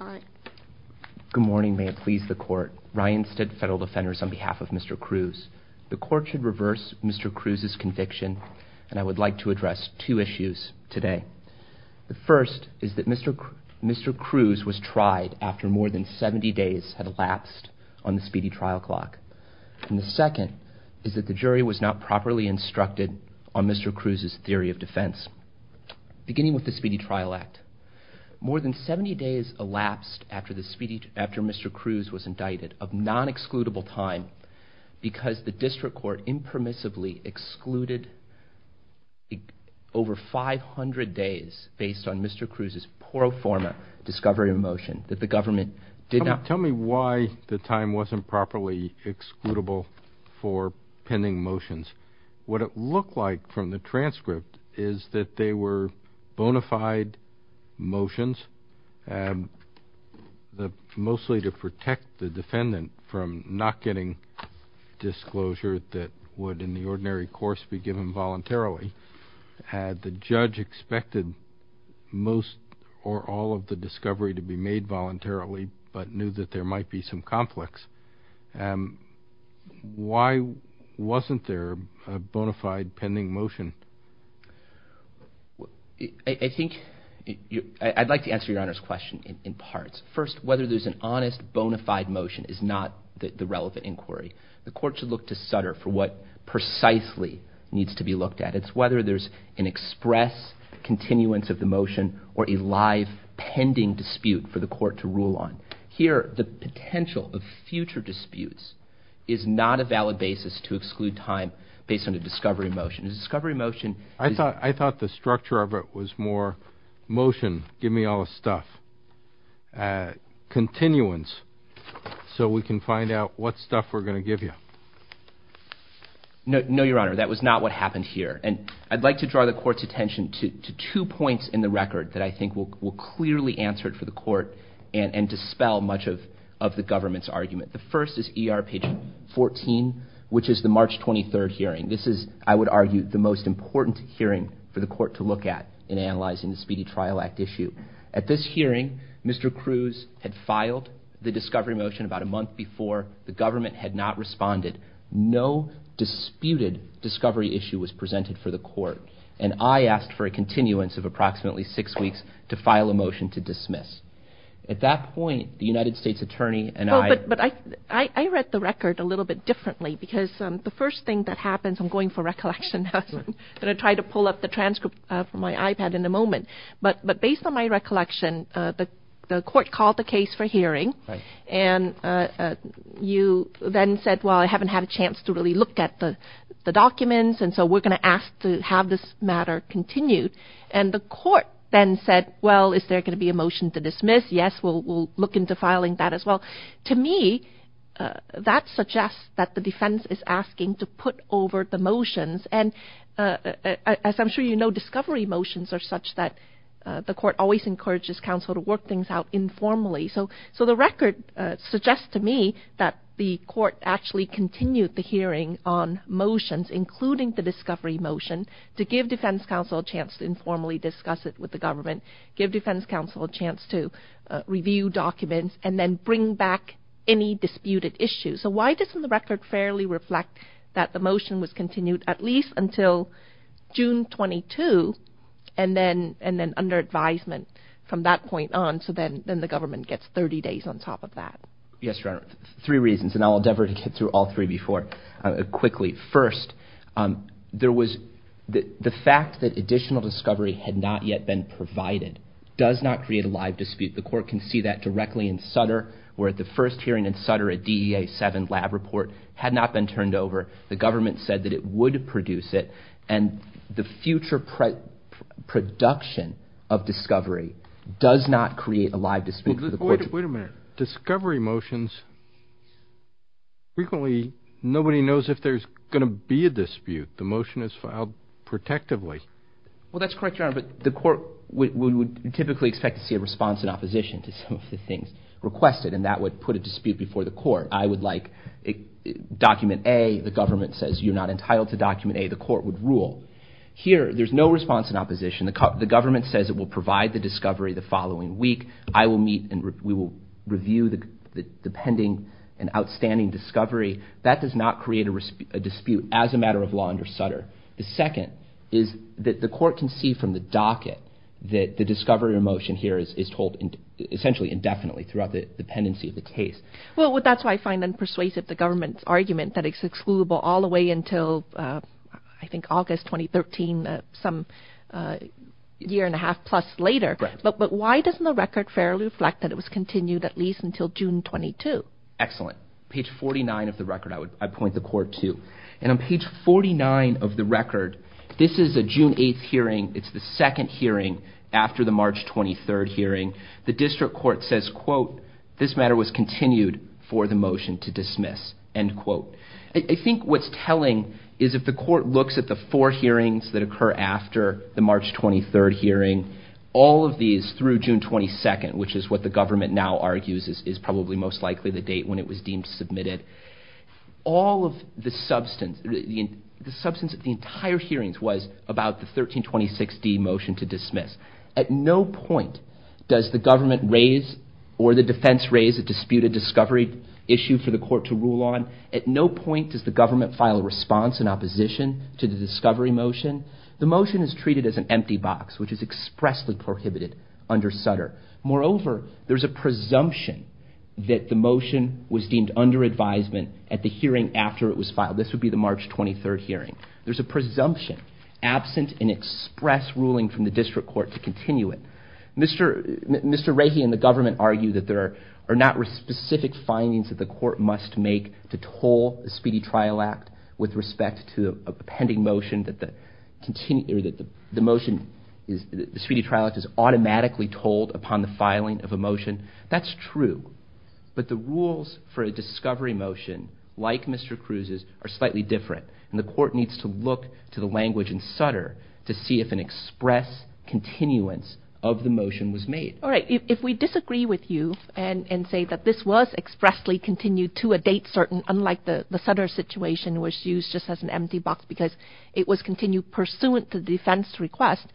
on behalf of Mr. Cruz. The court should reverse Mr. Cruz's conviction and I would like to address two issues today. The first is that Mr. Cruz was tried after more than 70 days had elapsed on the speedy trial clock. And the second is that the jury was not properly instructed on Mr. Cruz's theory of defense. Beginning with the Speedy Trial Act, more than 70 days elapsed after Mr. Cruz was indicted of non-excludable time because the district court impermissibly excluded over 500 days based on Mr. Cruz's pro forma discovery of a motion that the government did not... These were bona fide motions, mostly to protect the defendant from not getting disclosure that would in the ordinary course be given voluntarily. Had the judge expected most or all of the discovery to be made voluntarily but knew that there might be some conflicts, why wasn't there a bona fide pending motion? I'd like to answer your Honor's question in parts. First, whether there's an honest bona fide motion is not the relevant inquiry. The court should look to Sutter for what precisely needs to be looked at. It's whether there's an express continuance of the motion or a live pending dispute for the court to rule on. Here, the potential of future disputes is not a valid basis to exclude time based on a discovery motion. A discovery motion... I thought the structure of it was more motion, give me all the stuff, continuance, so we can find out what stuff we're going to give you. No, your Honor, that was not what happened here. And I'd like to draw the court's attention to two points in the record that I think will clearly answer it for the court and dispel much of the government's argument. The first is ER page 14, which is the March 23rd hearing. This is, I would argue, the most important hearing for the court to look at in analyzing the Speedy Trial Act issue. At this hearing, Mr. Cruz had filed the discovery motion about a month before. The government had not responded. No disputed discovery issue was presented for the court. And I asked for a continuance of approximately six weeks to file a motion to dismiss. At that point, the United States Attorney and I... I'm going for recollection. I'm going to try to pull up the transcript from my iPad in a moment. But based on my recollection, the court called the case for hearing, and you then said, well, I haven't had a chance to really look at the documents, and so we're going to ask to have this matter continued. And the court then said, well, is there going to be a motion to dismiss? Yes, we'll look into filing that as well. To me, that suggests that the defense is asking to put over the motions. And as I'm sure you know, discovery motions are such that the court always encourages counsel to work things out informally. So the record suggests to me that the court actually continued the hearing on motions, including the discovery motion, to give defense counsel a chance to informally discuss it with the government, give defense counsel a chance to review documents, and then bring back any disputed issues. So why doesn't the record fairly reflect that the motion was continued at least until June 22, and then under advisement from that point on, so then the government gets 30 days on top of that? Yes, Your Honor. Three reasons, and I'll endeavor to get through all three before quickly. First, there was the fact that additional discovery had not yet been provided does not create a live dispute. The court can see that directly in Sutter, where at the first hearing in Sutter, a DEA 7 lab report had not been turned over. The government said that it would produce it, and the future production of discovery does not create a live dispute. Wait a minute. Discovery motions, frequently nobody knows if there's going to be a dispute. The motion is filed protectively. Well, that's correct, Your Honor, but the court would typically expect to see a response in opposition to some of the things requested, and that would put a dispute before the court. I would like document A, the government says you're not entitled to document A, the court would rule. Here, there's no response in opposition. The government says it will provide the discovery the following week. I will meet and we will review the pending and outstanding discovery. That does not create a dispute as a matter of law under Sutter. The second is that the court can see from the docket that the discovery motion here is told essentially indefinitely throughout the pendency of the case. Well, that's why I find unpersuasive the government's argument that it's excludable all the way until I think August 2013, some year and a half plus later. But why doesn't the record fairly reflect that it was continued at least until June 22? Excellent. Page 49 of the record, I would point the court to. And on page 49 of the record, this is a June 8th hearing. It's the second hearing after the March 23rd hearing. The district court says, quote, this matter was continued for the motion to dismiss, end quote. I think what's telling is if the court looks at the four hearings that occur after the March 23rd hearing, all of these through June 22nd, which is what the government now argues is probably most likely the date when it was deemed submitted. All of the substance, the substance of the entire hearings was about the 1326D motion to dismiss. At no point does the government raise or the defense raise a disputed discovery issue for the court to rule on. At no point does the government file a response in opposition to the discovery motion. The motion is treated as an empty box, which is expressly prohibited under Sutter. Moreover, there's a presumption that the motion was deemed under advisement at the hearing after it was filed. This would be the March 23rd hearing. There's a presumption absent an express ruling from the district court to continue it. Mr. Rahe and the government argue that there are not specific findings that the court must make to toll the Speedy Trial Act with respect to a pending motion that the motion, the Speedy Trial Act is automatically tolled upon the filing of a motion. That's true, but the rules for a discovery motion like Mr. Cruz's are slightly different. And the court needs to look to the language in Sutter to see if an express continuance of the motion was made. All right. If we disagree with you and say that this was expressly continued to a date certain, unlike the Sutter situation was used just as an empty box because it was continued pursuant to the defense request.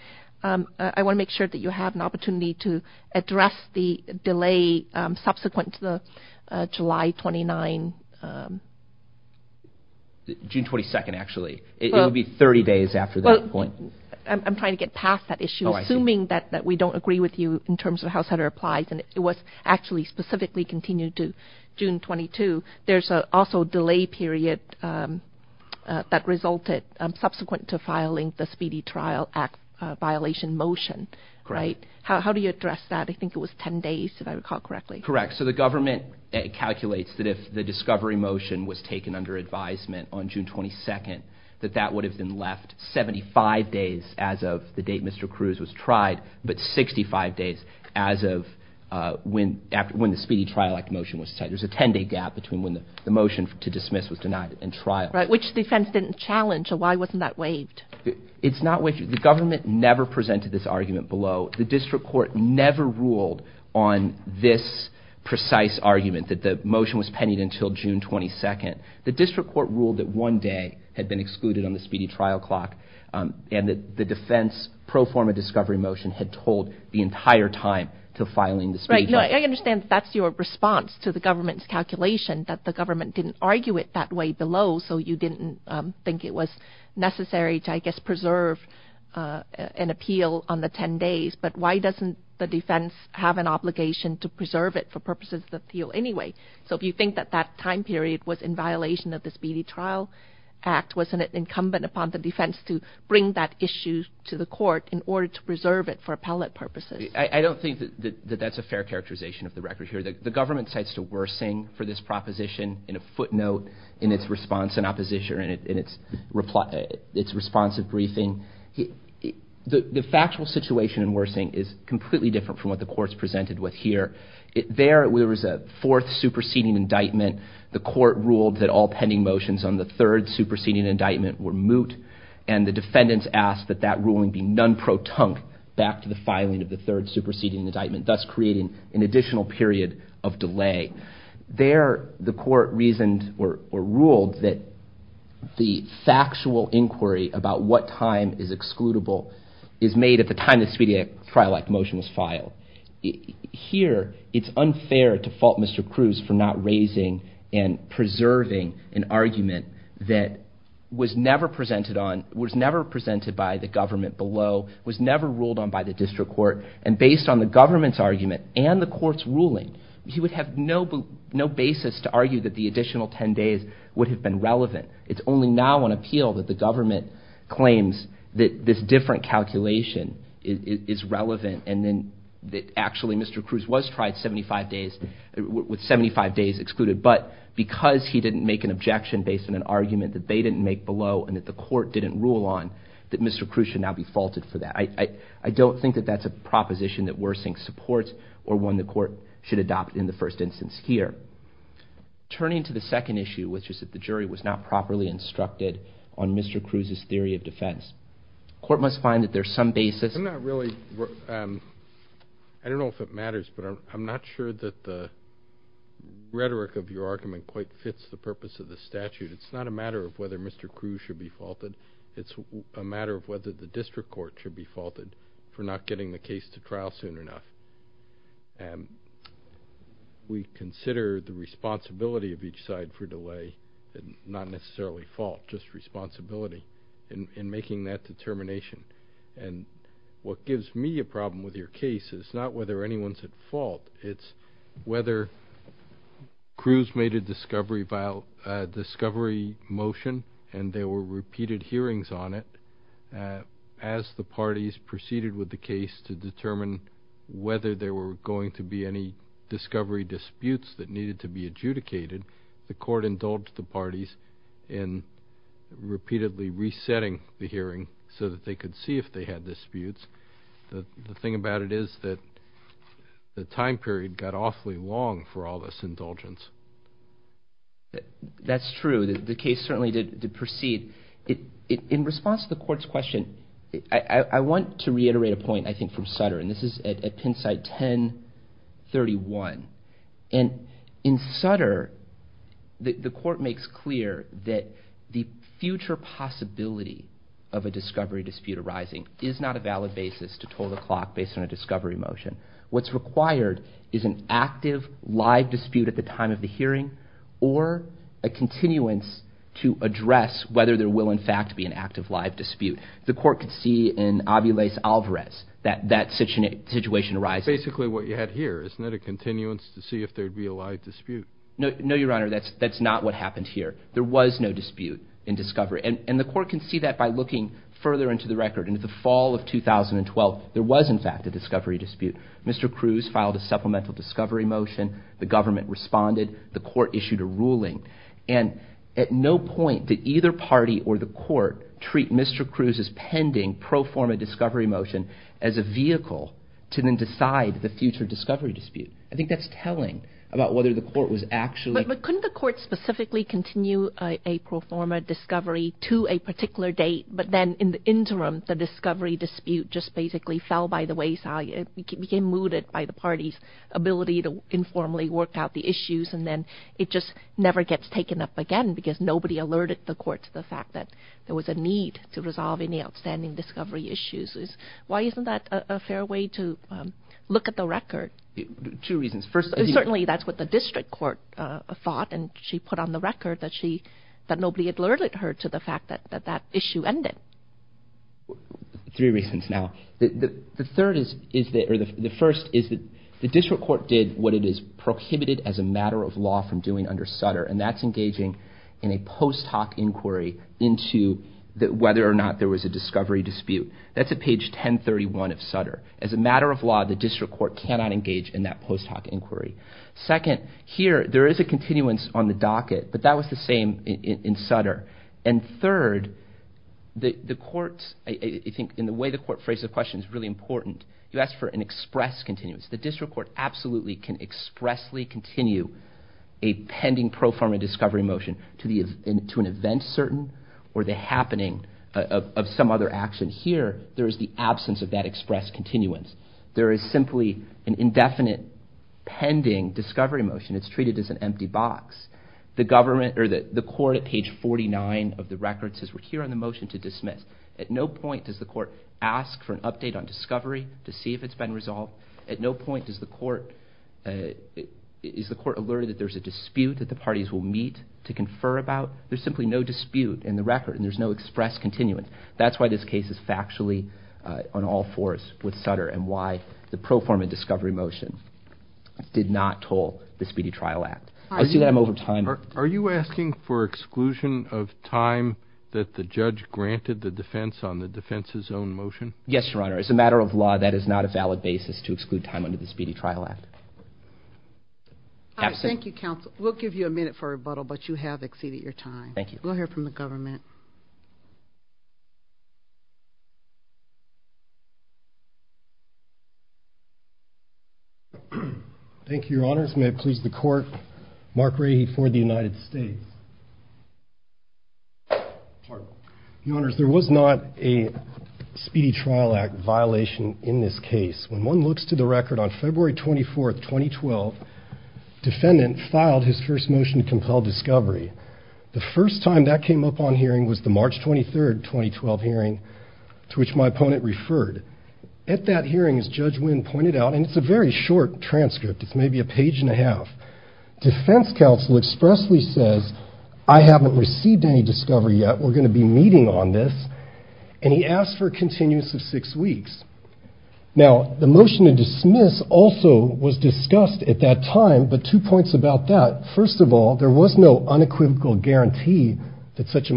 I want to make sure that you have an opportunity to address the delay subsequent to the July 29. June 22nd, actually, it would be 30 days after that point. I'm trying to get past that issue, assuming that we don't agree with you in terms of how Sutter applies. It was actually specifically continued to June 22. There's also a delay period that resulted subsequent to filing the Speedy Trial Act violation motion. How do you address that? I think it was 10 days, if I recall correctly. Correct. So the government calculates that if the discovery motion was taken under advisement on June 22nd, that that would have been left 75 days as of the date Mr. Cruz was tried, but 65 days as of when the Speedy Trial Act motion was decided. There's a 10-day gap between when the motion to dismiss was denied and trial. Right, which the defense didn't challenge, so why wasn't that waived? It's not waived. The government never presented this argument below. The district court never ruled on this precise argument that the motion was pending until June 22nd. The district court ruled that one day had been excluded on the Speedy Trial Clock, and that the defense pro forma discovery motion had told the entire time to filing the Speedy Trial Clock. Right, I understand that's your response to the government's calculation, that the government didn't argue it that way below, so you didn't think it was necessary to, I guess, preserve an appeal on the 10 days, but why doesn't the defense have an obligation to preserve it for purposes of the appeal anyway? So if you think that that time period was in violation of the Speedy Trial Act, wasn't it incumbent upon the defense to bring that issue to the court in order to preserve it for appellate purposes? I don't think that that's a fair characterization of the record here. The government cites to Wersing for this proposition in a footnote in its response in opposition, in its response at briefing. The factual situation in Wersing is completely different from what the court's presented with here. There, there was a fourth superseding indictment. The court ruled that all pending motions on the third superseding indictment were moot, and the defendants asked that that ruling be non-protunct back to the filing of the third superseding indictment, thus creating an additional period of delay. There, the court reasoned or ruled that the factual inquiry about what time is excludable is made at the time the Speedy Trial Act motion was filed. Here, it's unfair to fault Mr. Cruz for not raising and preserving an argument that was never presented on, was never presented by the government below, was never ruled on by the district court, and based on the government's argument and the court's ruling, he would have no basis to argue that the additional ten days would have been relevant. It's only now on appeal that the government claims that this different calculation is relevant and then that actually Mr. Cruz was tried 75 days, with 75 days excluded, but because he didn't make an objection based on an argument that they didn't make below and that the court didn't rule on, that Mr. Cruz should now be faulted for that. I don't think that that's a proposition that Wersing supports or one the court should adopt in the first instance here. Turning to the second issue, which is that the jury was not properly instructed on Mr. Cruz's theory of defense, the court must find that there's some basis. I don't know if it matters, but I'm not sure that the rhetoric of your argument quite fits the purpose of the statute. It's not a matter of whether Mr. Cruz should be faulted. It's a matter of whether the district court should be faulted for not getting the case to trial soon enough. We consider the responsibility of each side for delay, not necessarily fault, just responsibility, in making that determination, and what gives me a problem with your case is not whether anyone's at fault. It's whether Cruz made a discovery motion and there were repeated hearings on it. As the parties proceeded with the case to determine whether there were going to be any discovery disputes that needed to be adjudicated, the court indulged the parties in repeatedly resetting the hearing so that they could see if they had disputes. The thing about it is that the time period got awfully long for all this indulgence. That's true. The case certainly did proceed. In response to the court's question, I want to reiterate a point, I think, from Sutter, and this is at Penn site 1031. In Sutter, the court makes clear that the future possibility of a discovery dispute arising is not a valid basis to toll the clock based on a discovery motion. What's required is an active, live dispute at the time of the hearing or a continuance to address whether there will, in fact, be an active, live dispute. The court could see in Aviles-Alvarez that that situation arises. Basically what you had here. Isn't that a continuance to see if there would be a live dispute? No, Your Honor. That's not what happened here. There was no dispute in discovery. And the court can see that by looking further into the record. In the fall of 2012, there was, in fact, a discovery dispute. Mr. Cruz filed a supplemental discovery motion. The government responded. The court issued a ruling. And at no point did either party or the court treat Mr. Cruz's pending pro forma discovery motion as a vehicle to then decide the future discovery dispute. I think that's telling about whether the court was actually But couldn't the court specifically continue a pro forma discovery to a particular date, but then in the interim the discovery dispute just basically fell by the wayside. It became mooted by the party's ability to informally work out the issues and then it just never gets taken up again because nobody alerted the court to the fact that there was a need to resolve any outstanding discovery issues. Why isn't that a fair way to look at the record? Two reasons. Certainly that's what the district court thought. And she put on the record that nobody alerted her to the fact that that issue ended. Three reasons now. The first is that the district court did what it is prohibited as a matter of law from doing under Sutter and that's engaging in a post hoc inquiry into whether or not there was a discovery dispute. That's at page 1031 of Sutter. As a matter of law, the district court cannot engage in that post hoc inquiry. Second, here there is a continuance on the docket, but that was the same in Sutter. And third, I think in the way the court phrased the question is really important. You asked for an express continuance. The district court absolutely can expressly continue a pending pro forma discovery motion to an event certain or the happening of some other action. Here there is the absence of that express continuance. There is simply an indefinite pending discovery motion. It's treated as an empty box. The court at page 49 of the record says we're here on the motion to dismiss. At no point does the court ask for an update on discovery to see if it's been resolved. At no point is the court alerted that there's a dispute that the parties will meet to confer about. There's simply no dispute in the record and there's no express continuance. That's why this case is factually on all fours with Sutter and why the pro forma discovery motion did not toll the Speedy Trial Act. I see that I'm over time. Are you asking for exclusion of time that the judge granted the defense on the defense's own motion? Yes, Your Honor. As a matter of law, that is not a valid basis to exclude time under the Speedy Trial Act. Thank you, counsel. We'll give you a minute for rebuttal, but you have exceeded your time. Thank you. We'll hear from the government. Thank you, Your Honors. May it please the court, Mark Rahe for the United States. Your Honors, there was not a Speedy Trial Act violation in this case. When one looks to the record, on February 24th, 2012, defendant filed his first motion to compel discovery. The first time that came up on hearing was the March 23rd, 2012 hearing to which my opponent referred. At that hearing, as Judge Wynn pointed out, and it's a very short transcript. It's maybe a page and a half. Defense counsel expressly says, I haven't received any discovery yet. We're going to be meeting on this. And he asked for a continuous of six weeks. Now, the motion to dismiss also was discussed at that time, but two points about that. First of all, there was no unequivocal guarantee that such a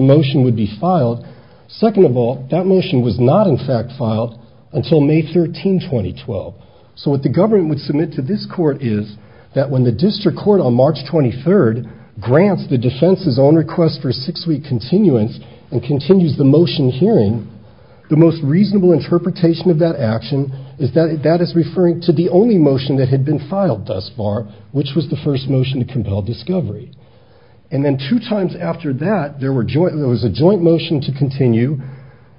motion would be filed. Second of all, that motion was not, in fact, filed until May 13, 2012. So what the government would submit to this court is that when the district court, on March 23rd, grants the defense's own request for a six-week continuance and continues the motion hearing, the most reasonable interpretation of that action is that that is referring to the only motion that had been filed thus far, which was the first motion to compel discovery. And then two times after that, there was a joint motion to continue,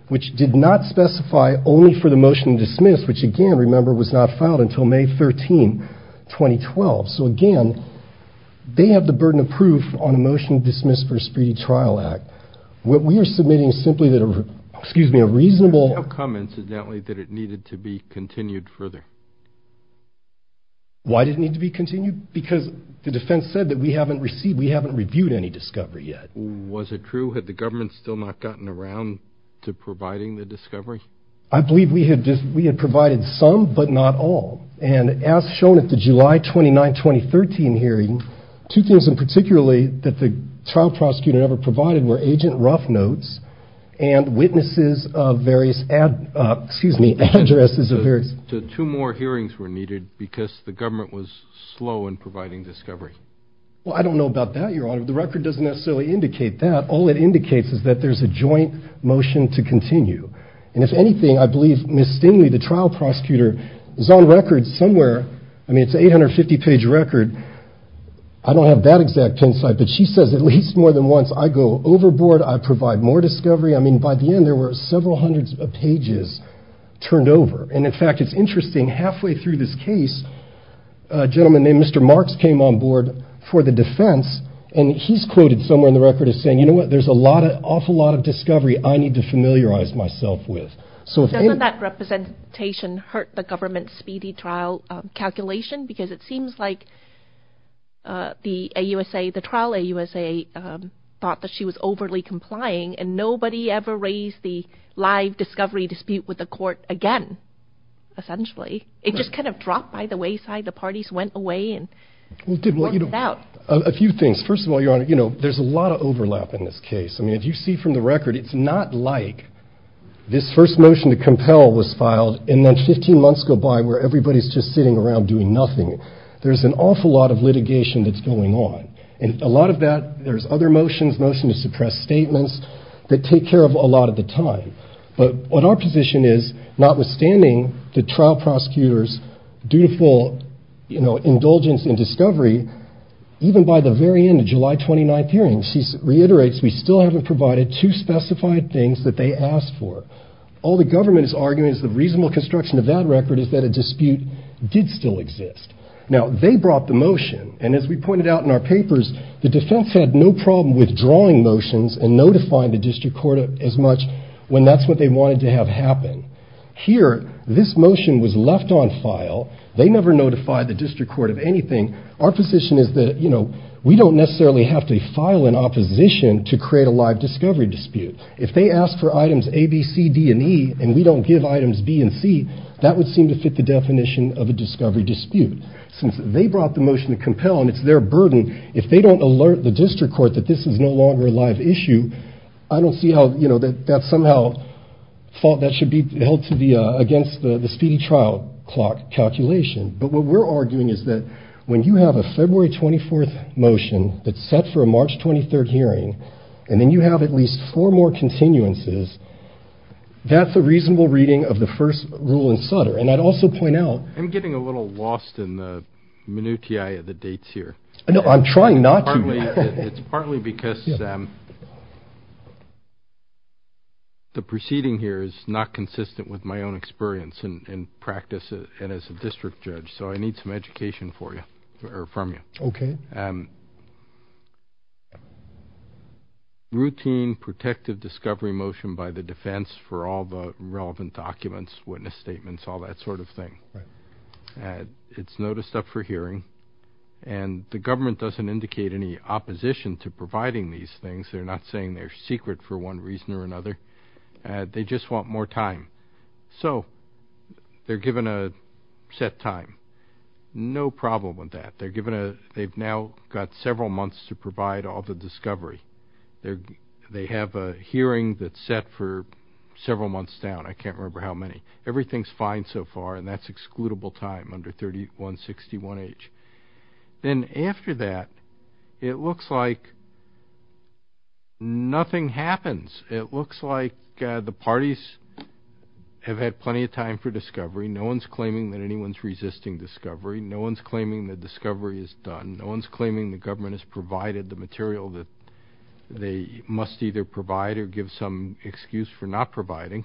which did not specify only for the motion to dismiss, which, again, remember, was not filed until May 13, 2012. So, again, they have the burden of proof on a motion dismissed for a speedy trial act. What we are submitting is simply that a reasonable – How come, incidentally, that it needed to be continued further? Why did it need to be continued? Because the defense said that we haven't received, we haven't reviewed any discovery yet. Was it true? Had the government still not gotten around to providing the discovery? I believe we had provided some, but not all. And as shown at the July 29, 2013 hearing, two things in particular that the trial prosecutor never provided were agent rough notes and witnesses of various – excuse me, addresses of various – So two more hearings were needed because the government was slow in providing discovery. Well, I don't know about that, Your Honor. The record doesn't necessarily indicate that. All it indicates is that there's a joint motion to continue. And if anything, I believe Ms. Stingley, the trial prosecutor, is on record somewhere – I mean, it's an 850-page record. I don't have that exact insight, but she says at least more than once, I go overboard, I provide more discovery. I mean, by the end, there were several hundreds of pages turned over. And, in fact, it's interesting, halfway through this case, a gentleman named Mr. Marks came on board for the defense, and he's quoted somewhere in the record as saying, you know what, there's an awful lot of discovery I need to familiarize myself with. Doesn't that representation hurt the government's speedy trial calculation? Because it seems like the trial AUSA thought that she was overly complying, and nobody ever raised the live discovery dispute with the court again, essentially. It just kind of dropped by the wayside. The parties went away and worked it out. A few things. First of all, Your Honor, you know, there's a lot of overlap in this case. I mean, if you see from the record, it's not like this first motion to compel was filed, and then 15 months go by where everybody's just sitting around doing nothing. There's an awful lot of litigation that's going on. And a lot of that, there's other motions, motions to suppress statements, that take care of a lot of the time. But what our position is, notwithstanding the trial prosecutor's dutiful, you know, even by the very end of July 29th hearing, she reiterates, we still haven't provided two specified things that they asked for. All the government is arguing is the reasonable construction of that record is that a dispute did still exist. Now, they brought the motion, and as we pointed out in our papers, the defense had no problem withdrawing motions and notifying the district court as much when that's what they wanted to have happen. Here, this motion was left on file. They never notified the district court of anything. Our position is that, you know, we don't necessarily have to file an opposition to create a live discovery dispute. If they ask for items A, B, C, D, and E, and we don't give items B and C, that would seem to fit the definition of a discovery dispute. Since they brought the motion to compel, and it's their burden, if they don't alert the district court that this is no longer a live issue, I don't see how, you know, that somehow, that should be held against the speedy trial clock calculation. But what we're arguing is that when you have a February 24th motion that's set for a March 23rd hearing, and then you have at least four more continuances, that's a reasonable reading of the first rule in Sutter. And I'd also point out— I'm getting a little lost in the minutiae of the dates here. No, I'm trying not to. It's partly because the proceeding here is not consistent with my own experience and practice as a district judge, so I need some education from you. Okay. Routine, protective discovery motion by the defense for all the relevant documents, witness statements, all that sort of thing. Right. It's noticed up for hearing, and the government doesn't indicate any opposition to providing these things. They're not saying they're secret for one reason or another. They just want more time. So they're given a set time. No problem with that. They've now got several months to provide all the discovery. They have a hearing that's set for several months down. I can't remember how many. Everything's fine so far, and that's excludable time under 3161H. Then after that, it looks like nothing happens. It looks like the parties have had plenty of time for discovery. No one's claiming that anyone's resisting discovery. No one's claiming that discovery is done. No one's claiming the government has provided the material that they must either provide or give some excuse for not providing.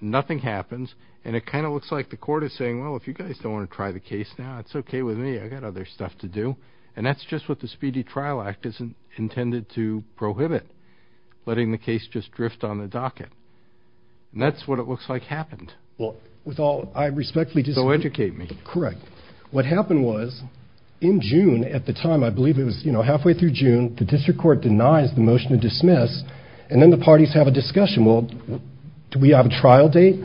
Nothing happens, and it kind of looks like the court is saying, well, if you guys don't want to try the case now, it's okay with me. I've got other stuff to do. And that's just what the Speedy Trial Act is intended to prohibit, letting the case just drift on the docket. And that's what it looks like happened. So educate me. Correct. What happened was in June at the time, I believe it was halfway through June, the district court denies the motion to dismiss, and then the parties have a discussion. Well, do we have a trial date?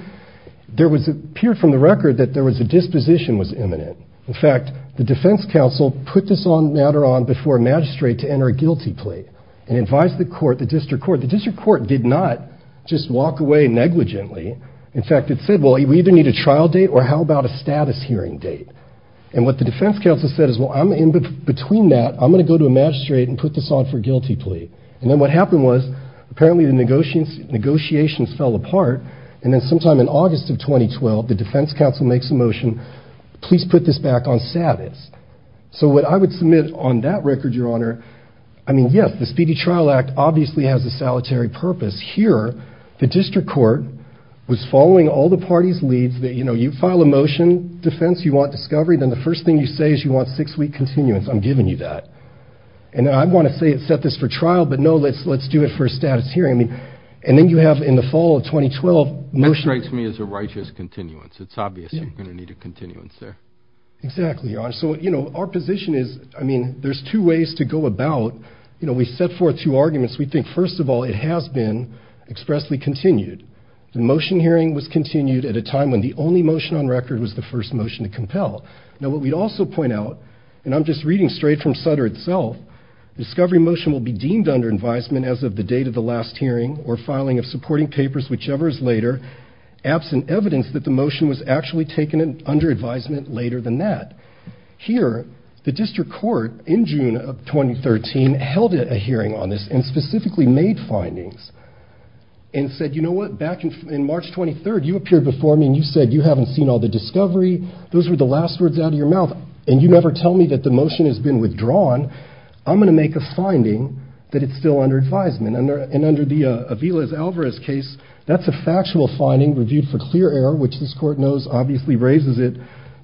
It appeared from the record that there was a disposition that was imminent. In fact, the defense counsel put this matter on before a magistrate to enter a guilty plea and advise the court, the district court. The district court did not just walk away negligently. In fact, it said, well, we either need a trial date or how about a status hearing date. And what the defense counsel said is, well, in between that, I'm going to go to a magistrate and put this on for a guilty plea. And then what happened was apparently the negotiations fell apart, and then sometime in August of 2012, the defense counsel makes a motion, please put this back on status. So what I would submit on that record, Your Honor, I mean, yes, the Speedy Trial Act obviously has a solitary purpose. Here, the district court was following all the parties' leads. You know, you file a motion. Defense, you want discovery. Then the first thing you say is you want six-week continuance. I'm giving you that. And I want to say set this for trial, but no, let's do it for a status hearing. And then you have in the fall of 2012 motion. That strikes me as a righteous continuance. It's obvious you're going to need a continuance there. Exactly, Your Honor. So, you know, our position is, I mean, there's two ways to go about, you know, we set forth two arguments. We think, first of all, it has been expressly continued. The motion hearing was continued at a time when the only motion on record was the first motion to compel. Now, what we'd also point out, and I'm just reading straight from Sutter itself, discovery motion will be deemed under advisement as of the date of the last hearing or filing of supporting papers, whichever is later, absent evidence that the motion was actually taken under advisement later than that. Here, the district court in June of 2013 held a hearing on this and specifically made findings and said, you know what, back in March 23rd, you appeared before me and you said you haven't seen all the discovery. Those were the last words out of your mouth. And you never tell me that the motion has been withdrawn. I'm going to make a finding that it's still under advisement. And under the Aviles-Alvarez case, that's a factual finding reviewed for clear error, which this court knows obviously raises it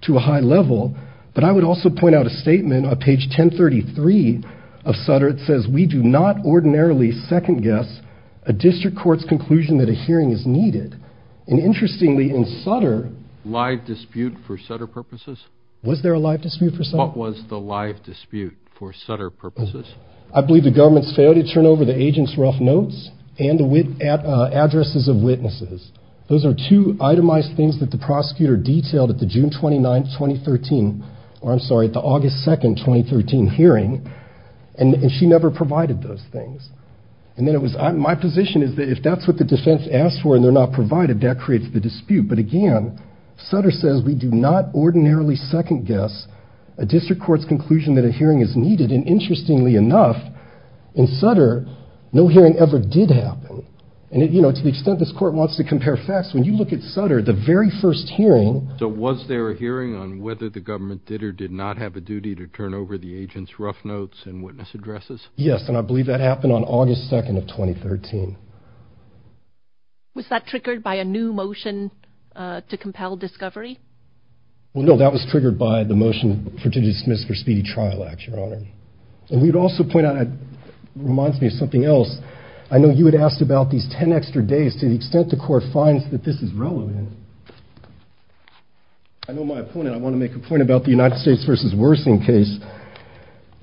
to a high level. But I would also point out a statement on page 1033 of Sutter. It says, we do not ordinarily second-guess a district court's conclusion that a hearing is needed. And interestingly, in Sutter. Live dispute for Sutter purposes? Was there a live dispute for Sutter? What was the live dispute for Sutter purposes? I believe the government's failure to turn over the agent's rough notes and addresses of witnesses. Those are two itemized things that the prosecutor detailed at the June 29th, 2013, or I'm sorry, at the August 2nd, 2013 hearing. And she never provided those things. And then it was, my position is that if that's what the defense asked for and they're not provided, that creates the dispute. But again, Sutter says, we do not ordinarily second-guess a district court's conclusion that a hearing is needed. And interestingly enough, in Sutter, no hearing ever did happen. And to the extent this court wants to compare facts, when you look at Sutter, the very first hearing. So was there a hearing on whether the government did or did not have a duty to turn over the agent's rough notes and witness addresses? Yes, and I believe that happened on August 2nd of 2013. Was that triggered by a new motion to compel discovery? Well, no, that was triggered by the motion to dismiss for speedy trial, Your Honor. And we'd also point out, it reminds me of something else, I know you had asked about these 10 extra days to the extent the court finds that this is relevant. I know my opponent, I want to make a point about the United States v. Wersing case.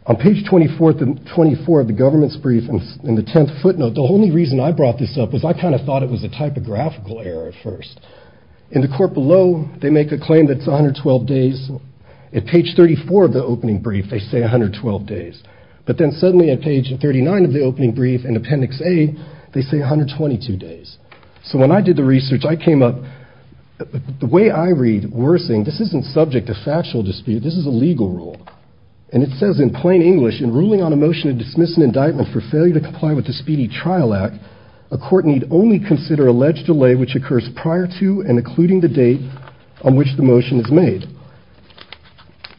On page 24 of the government's brief in the 10th footnote, the only reason I brought this up was I kind of thought it was a typographical error at first. In the court below, they make a claim that it's 112 days. At page 34 of the opening brief, they say 112 days. But then suddenly at page 39 of the opening brief in appendix A, they say 122 days. So when I did the research, I came up, the way I read Wersing, this isn't subject to factual dispute, this is a legal rule. And it says in plain English, in ruling on a motion to dismiss an indictment for failure to comply with the Speedy Trial Act, a court need only consider alleged delay which occurs prior to and including the date on which the motion is made.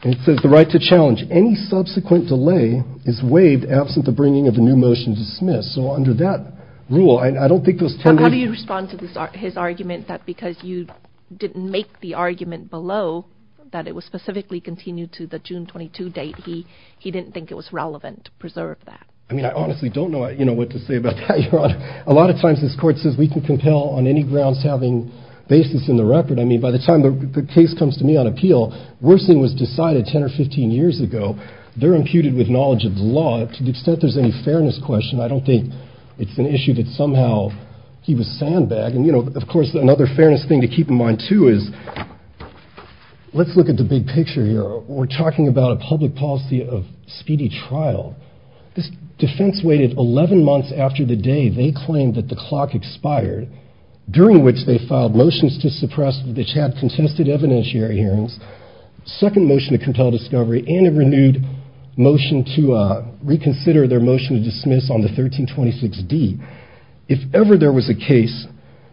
And it says the right to challenge any subsequent delay is waived absent the bringing of a new motion to dismiss. So under that rule, I don't think those 10 days- How do you respond to his argument that because you didn't make the argument below, that it was specifically continued to the June 22 date, he didn't think it was relevant to preserve that? I mean, I honestly don't know what to say about that, Your Honor. A lot of times this court says we can compel on any grounds having basis in the record. I mean, by the time the case comes to me on appeal, Wersing was decided 10 or 15 years ago. They're imputed with knowledge of the law. To the extent there's any fairness question, I don't think it's an issue that somehow he was sandbagged. And, you know, of course, another fairness thing to keep in mind, too, is let's look at the big picture here. We're talking about a public policy of speedy trial. This defense waited 11 months after the day they claimed that the clock expired, during which they filed motions to suppress the chat, contested evidentiary hearings, second motion to compel discovery and a renewed motion to reconsider their motion to dismiss on the 1326 D. If ever there was a case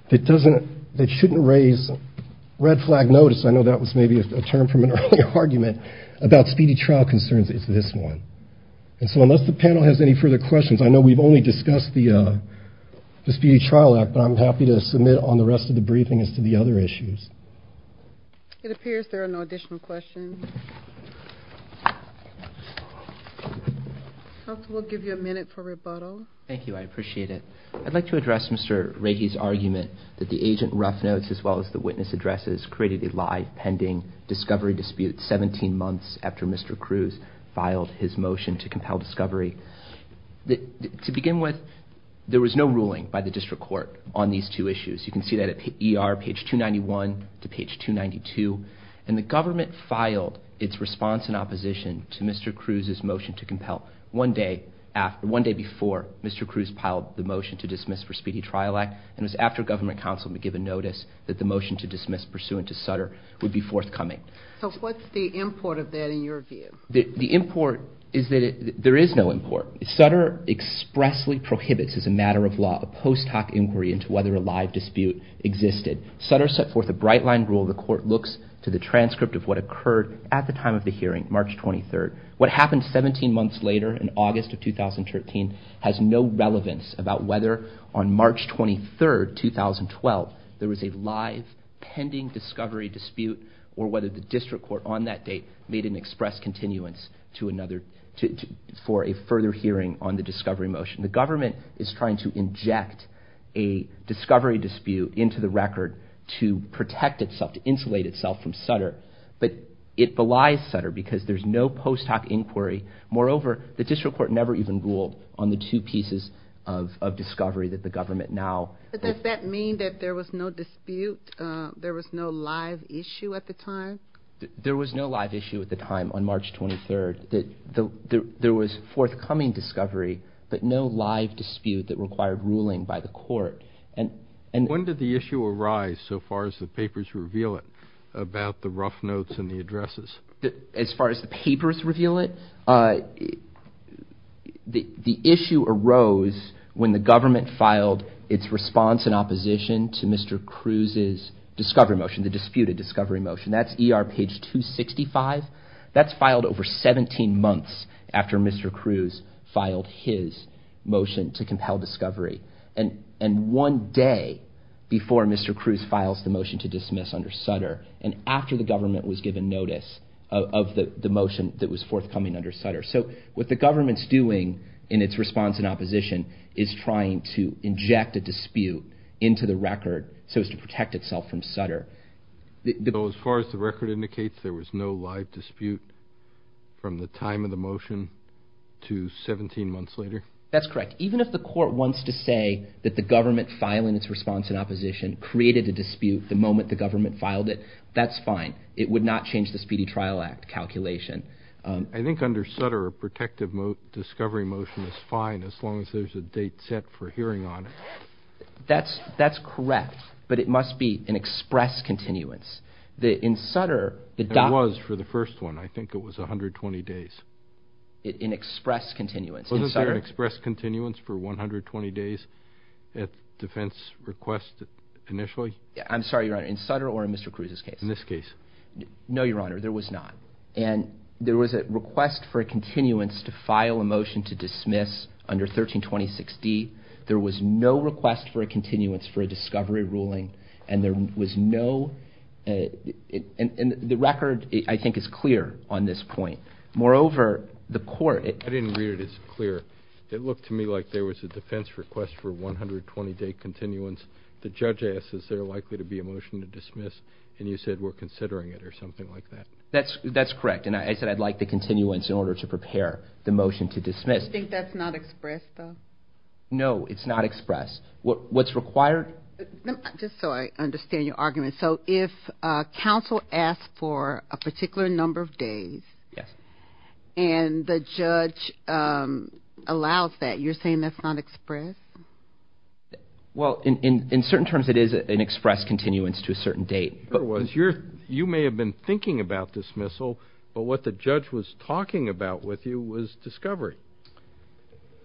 that doesn't that shouldn't raise red flag notice. I know that was maybe a term from an earlier argument about speedy trial concerns is this one. And so unless the panel has any further questions, I know we've only discussed the Speedy Trial Act, but I'm happy to submit on the rest of the briefing as to the other issues. It appears there are no additional questions. We'll give you a minute for rebuttal. Thank you. I appreciate it. I'd like to address Mr. Rakey's argument that the agent rough notes, as well as the witness addresses, created a live pending discovery dispute 17 months after Mr. Cruz filed his motion to compel discovery. To begin with, there was no ruling by the district court on these two issues. You can see that at ER, page 291 to page 292. And the government filed its response in opposition to Mr. Cruz's motion to compel. One day before, Mr. Cruz piled the motion to dismiss for Speedy Trial Act, and it was after government counsel had given notice that the motion to dismiss pursuant to Sutter would be forthcoming. So what's the import of that in your view? The import is that there is no import. Sutter expressly prohibits as a matter of law a post hoc inquiry into whether a live dispute existed. Sutter set forth a bright line rule. The court looks to the transcript of what occurred at the time of the hearing, March 23rd. What happened 17 months later in August of 2013 has no relevance about whether on March 23rd, 2012, there was a live pending discovery dispute or whether the district court on that date made an express continuance for a further hearing on the discovery motion. The government is trying to inject a discovery dispute into the record to protect itself, to insulate itself from Sutter. But it belies Sutter because there's no post hoc inquiry. Moreover, the district court never even ruled on the two pieces of discovery that the government now. But does that mean that there was no dispute, there was no live issue at the time? There was no live issue at the time on March 23rd. There was forthcoming discovery, but no live dispute that required ruling by the court. When did the issue arise so far as the papers reveal it about the rough notes and the addresses? As far as the papers reveal it? The issue arose when the government filed its response in opposition to Mr. Cruz's discovery motion, the disputed discovery motion. That's ER page 265. That's filed over 17 months after Mr. Cruz filed his motion to compel discovery. And one day before Mr. Cruz files the motion to dismiss under Sutter and after the government was given notice of the motion that was forthcoming under Sutter. So what the government's doing in its response in opposition is trying to inject a dispute into the record so as to protect itself from Sutter. So as far as the record indicates, there was no live dispute from the time of the motion to 17 months later? That's correct. Even if the court wants to say that the government filing its response in opposition created a dispute the moment the government filed it, that's fine. It would not change the Speedy Trial Act calculation. I think under Sutter a protective discovery motion is fine as long as there's a date set for hearing on it. That's correct, but it must be an express continuance. There was for the first one. I think it was 120 days. An express continuance. Wasn't there an express continuance for 120 days at defense request initially? I'm sorry, Your Honor, in Sutter or in Mr. Cruz's case? In this case. No, Your Honor, there was not. And there was a request for a continuance to file a motion to dismiss under 1326D. There was no request for a continuance for a discovery ruling, and there was no and the record, I think, is clear on this point. Moreover, the court. I didn't read it as clear. It looked to me like there was a defense request for 120-day continuance. The judge asked, is there likely to be a motion to dismiss? And you said, we're considering it or something like that. That's correct, and I said I'd like the continuance in order to prepare the motion to dismiss. Do you think that's not express, though? No, it's not express. What's required. Just so I understand your argument. So if counsel asks for a particular number of days and the judge allows that, you're saying that's not express? Well, in certain terms it is an express continuance to a certain date. You may have been thinking about dismissal, but what the judge was talking about with you was discovery.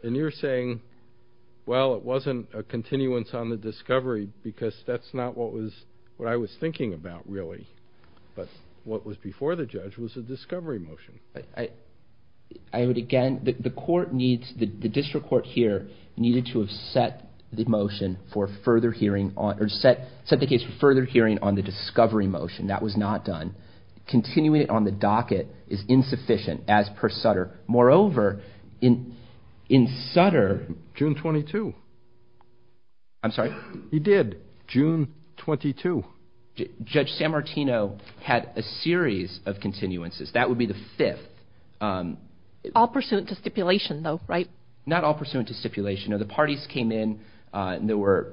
And you're saying, well, it wasn't a continuance on the discovery because that's not what I was thinking about, really. But what was before the judge was a discovery motion. Again, the court needs, the district court here needed to have set the motion for further hearing on, or set the case for further hearing on the discovery motion. That was not done. Continuing it on the docket is insufficient as per Sutter. Moreover, in Sutter. June 22. I'm sorry. He did. June 22. Judge San Martino had a series of continuances. That would be the fifth. All pursuant to stipulation, though, right? Not all pursuant to stipulation. The parties came in and there were,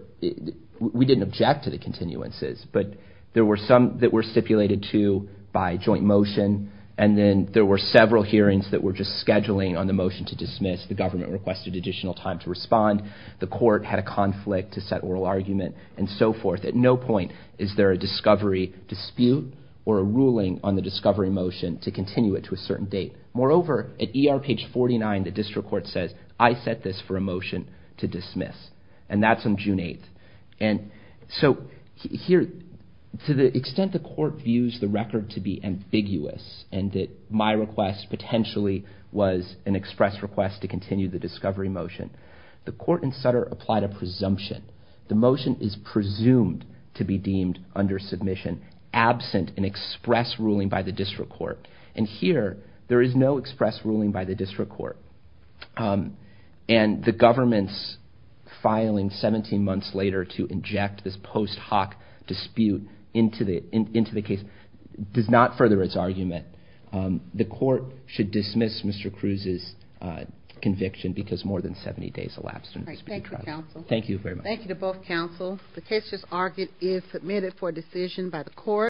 we didn't object to the continuances, but there were some that were stipulated to by joint motion, and then there were several hearings that were just scheduling on the motion to dismiss. The government requested additional time to respond. The court had a conflict to set oral argument and so forth. At no point is there a discovery dispute or a ruling on the discovery motion to continue it to a certain date. Moreover, at ER page 49, the district court says, I set this for a motion to dismiss, and that's on June 8th. And so here, to the extent the court views the record to be ambiguous and that my request potentially was an express request to continue the discovery motion, the court in Sutter applied a presumption. The motion is presumed to be deemed under submission absent an express ruling by the district court. And here, there is no express ruling by the district court. And the government's filing 17 months later to inject this post hoc dispute into the case does not further its argument. The court should dismiss Mr. Cruz's conviction because more than 70 days elapsed. Thank you, counsel. Thank you very much. Thank you to both counsel. The case just argued is submitted for decision by the court.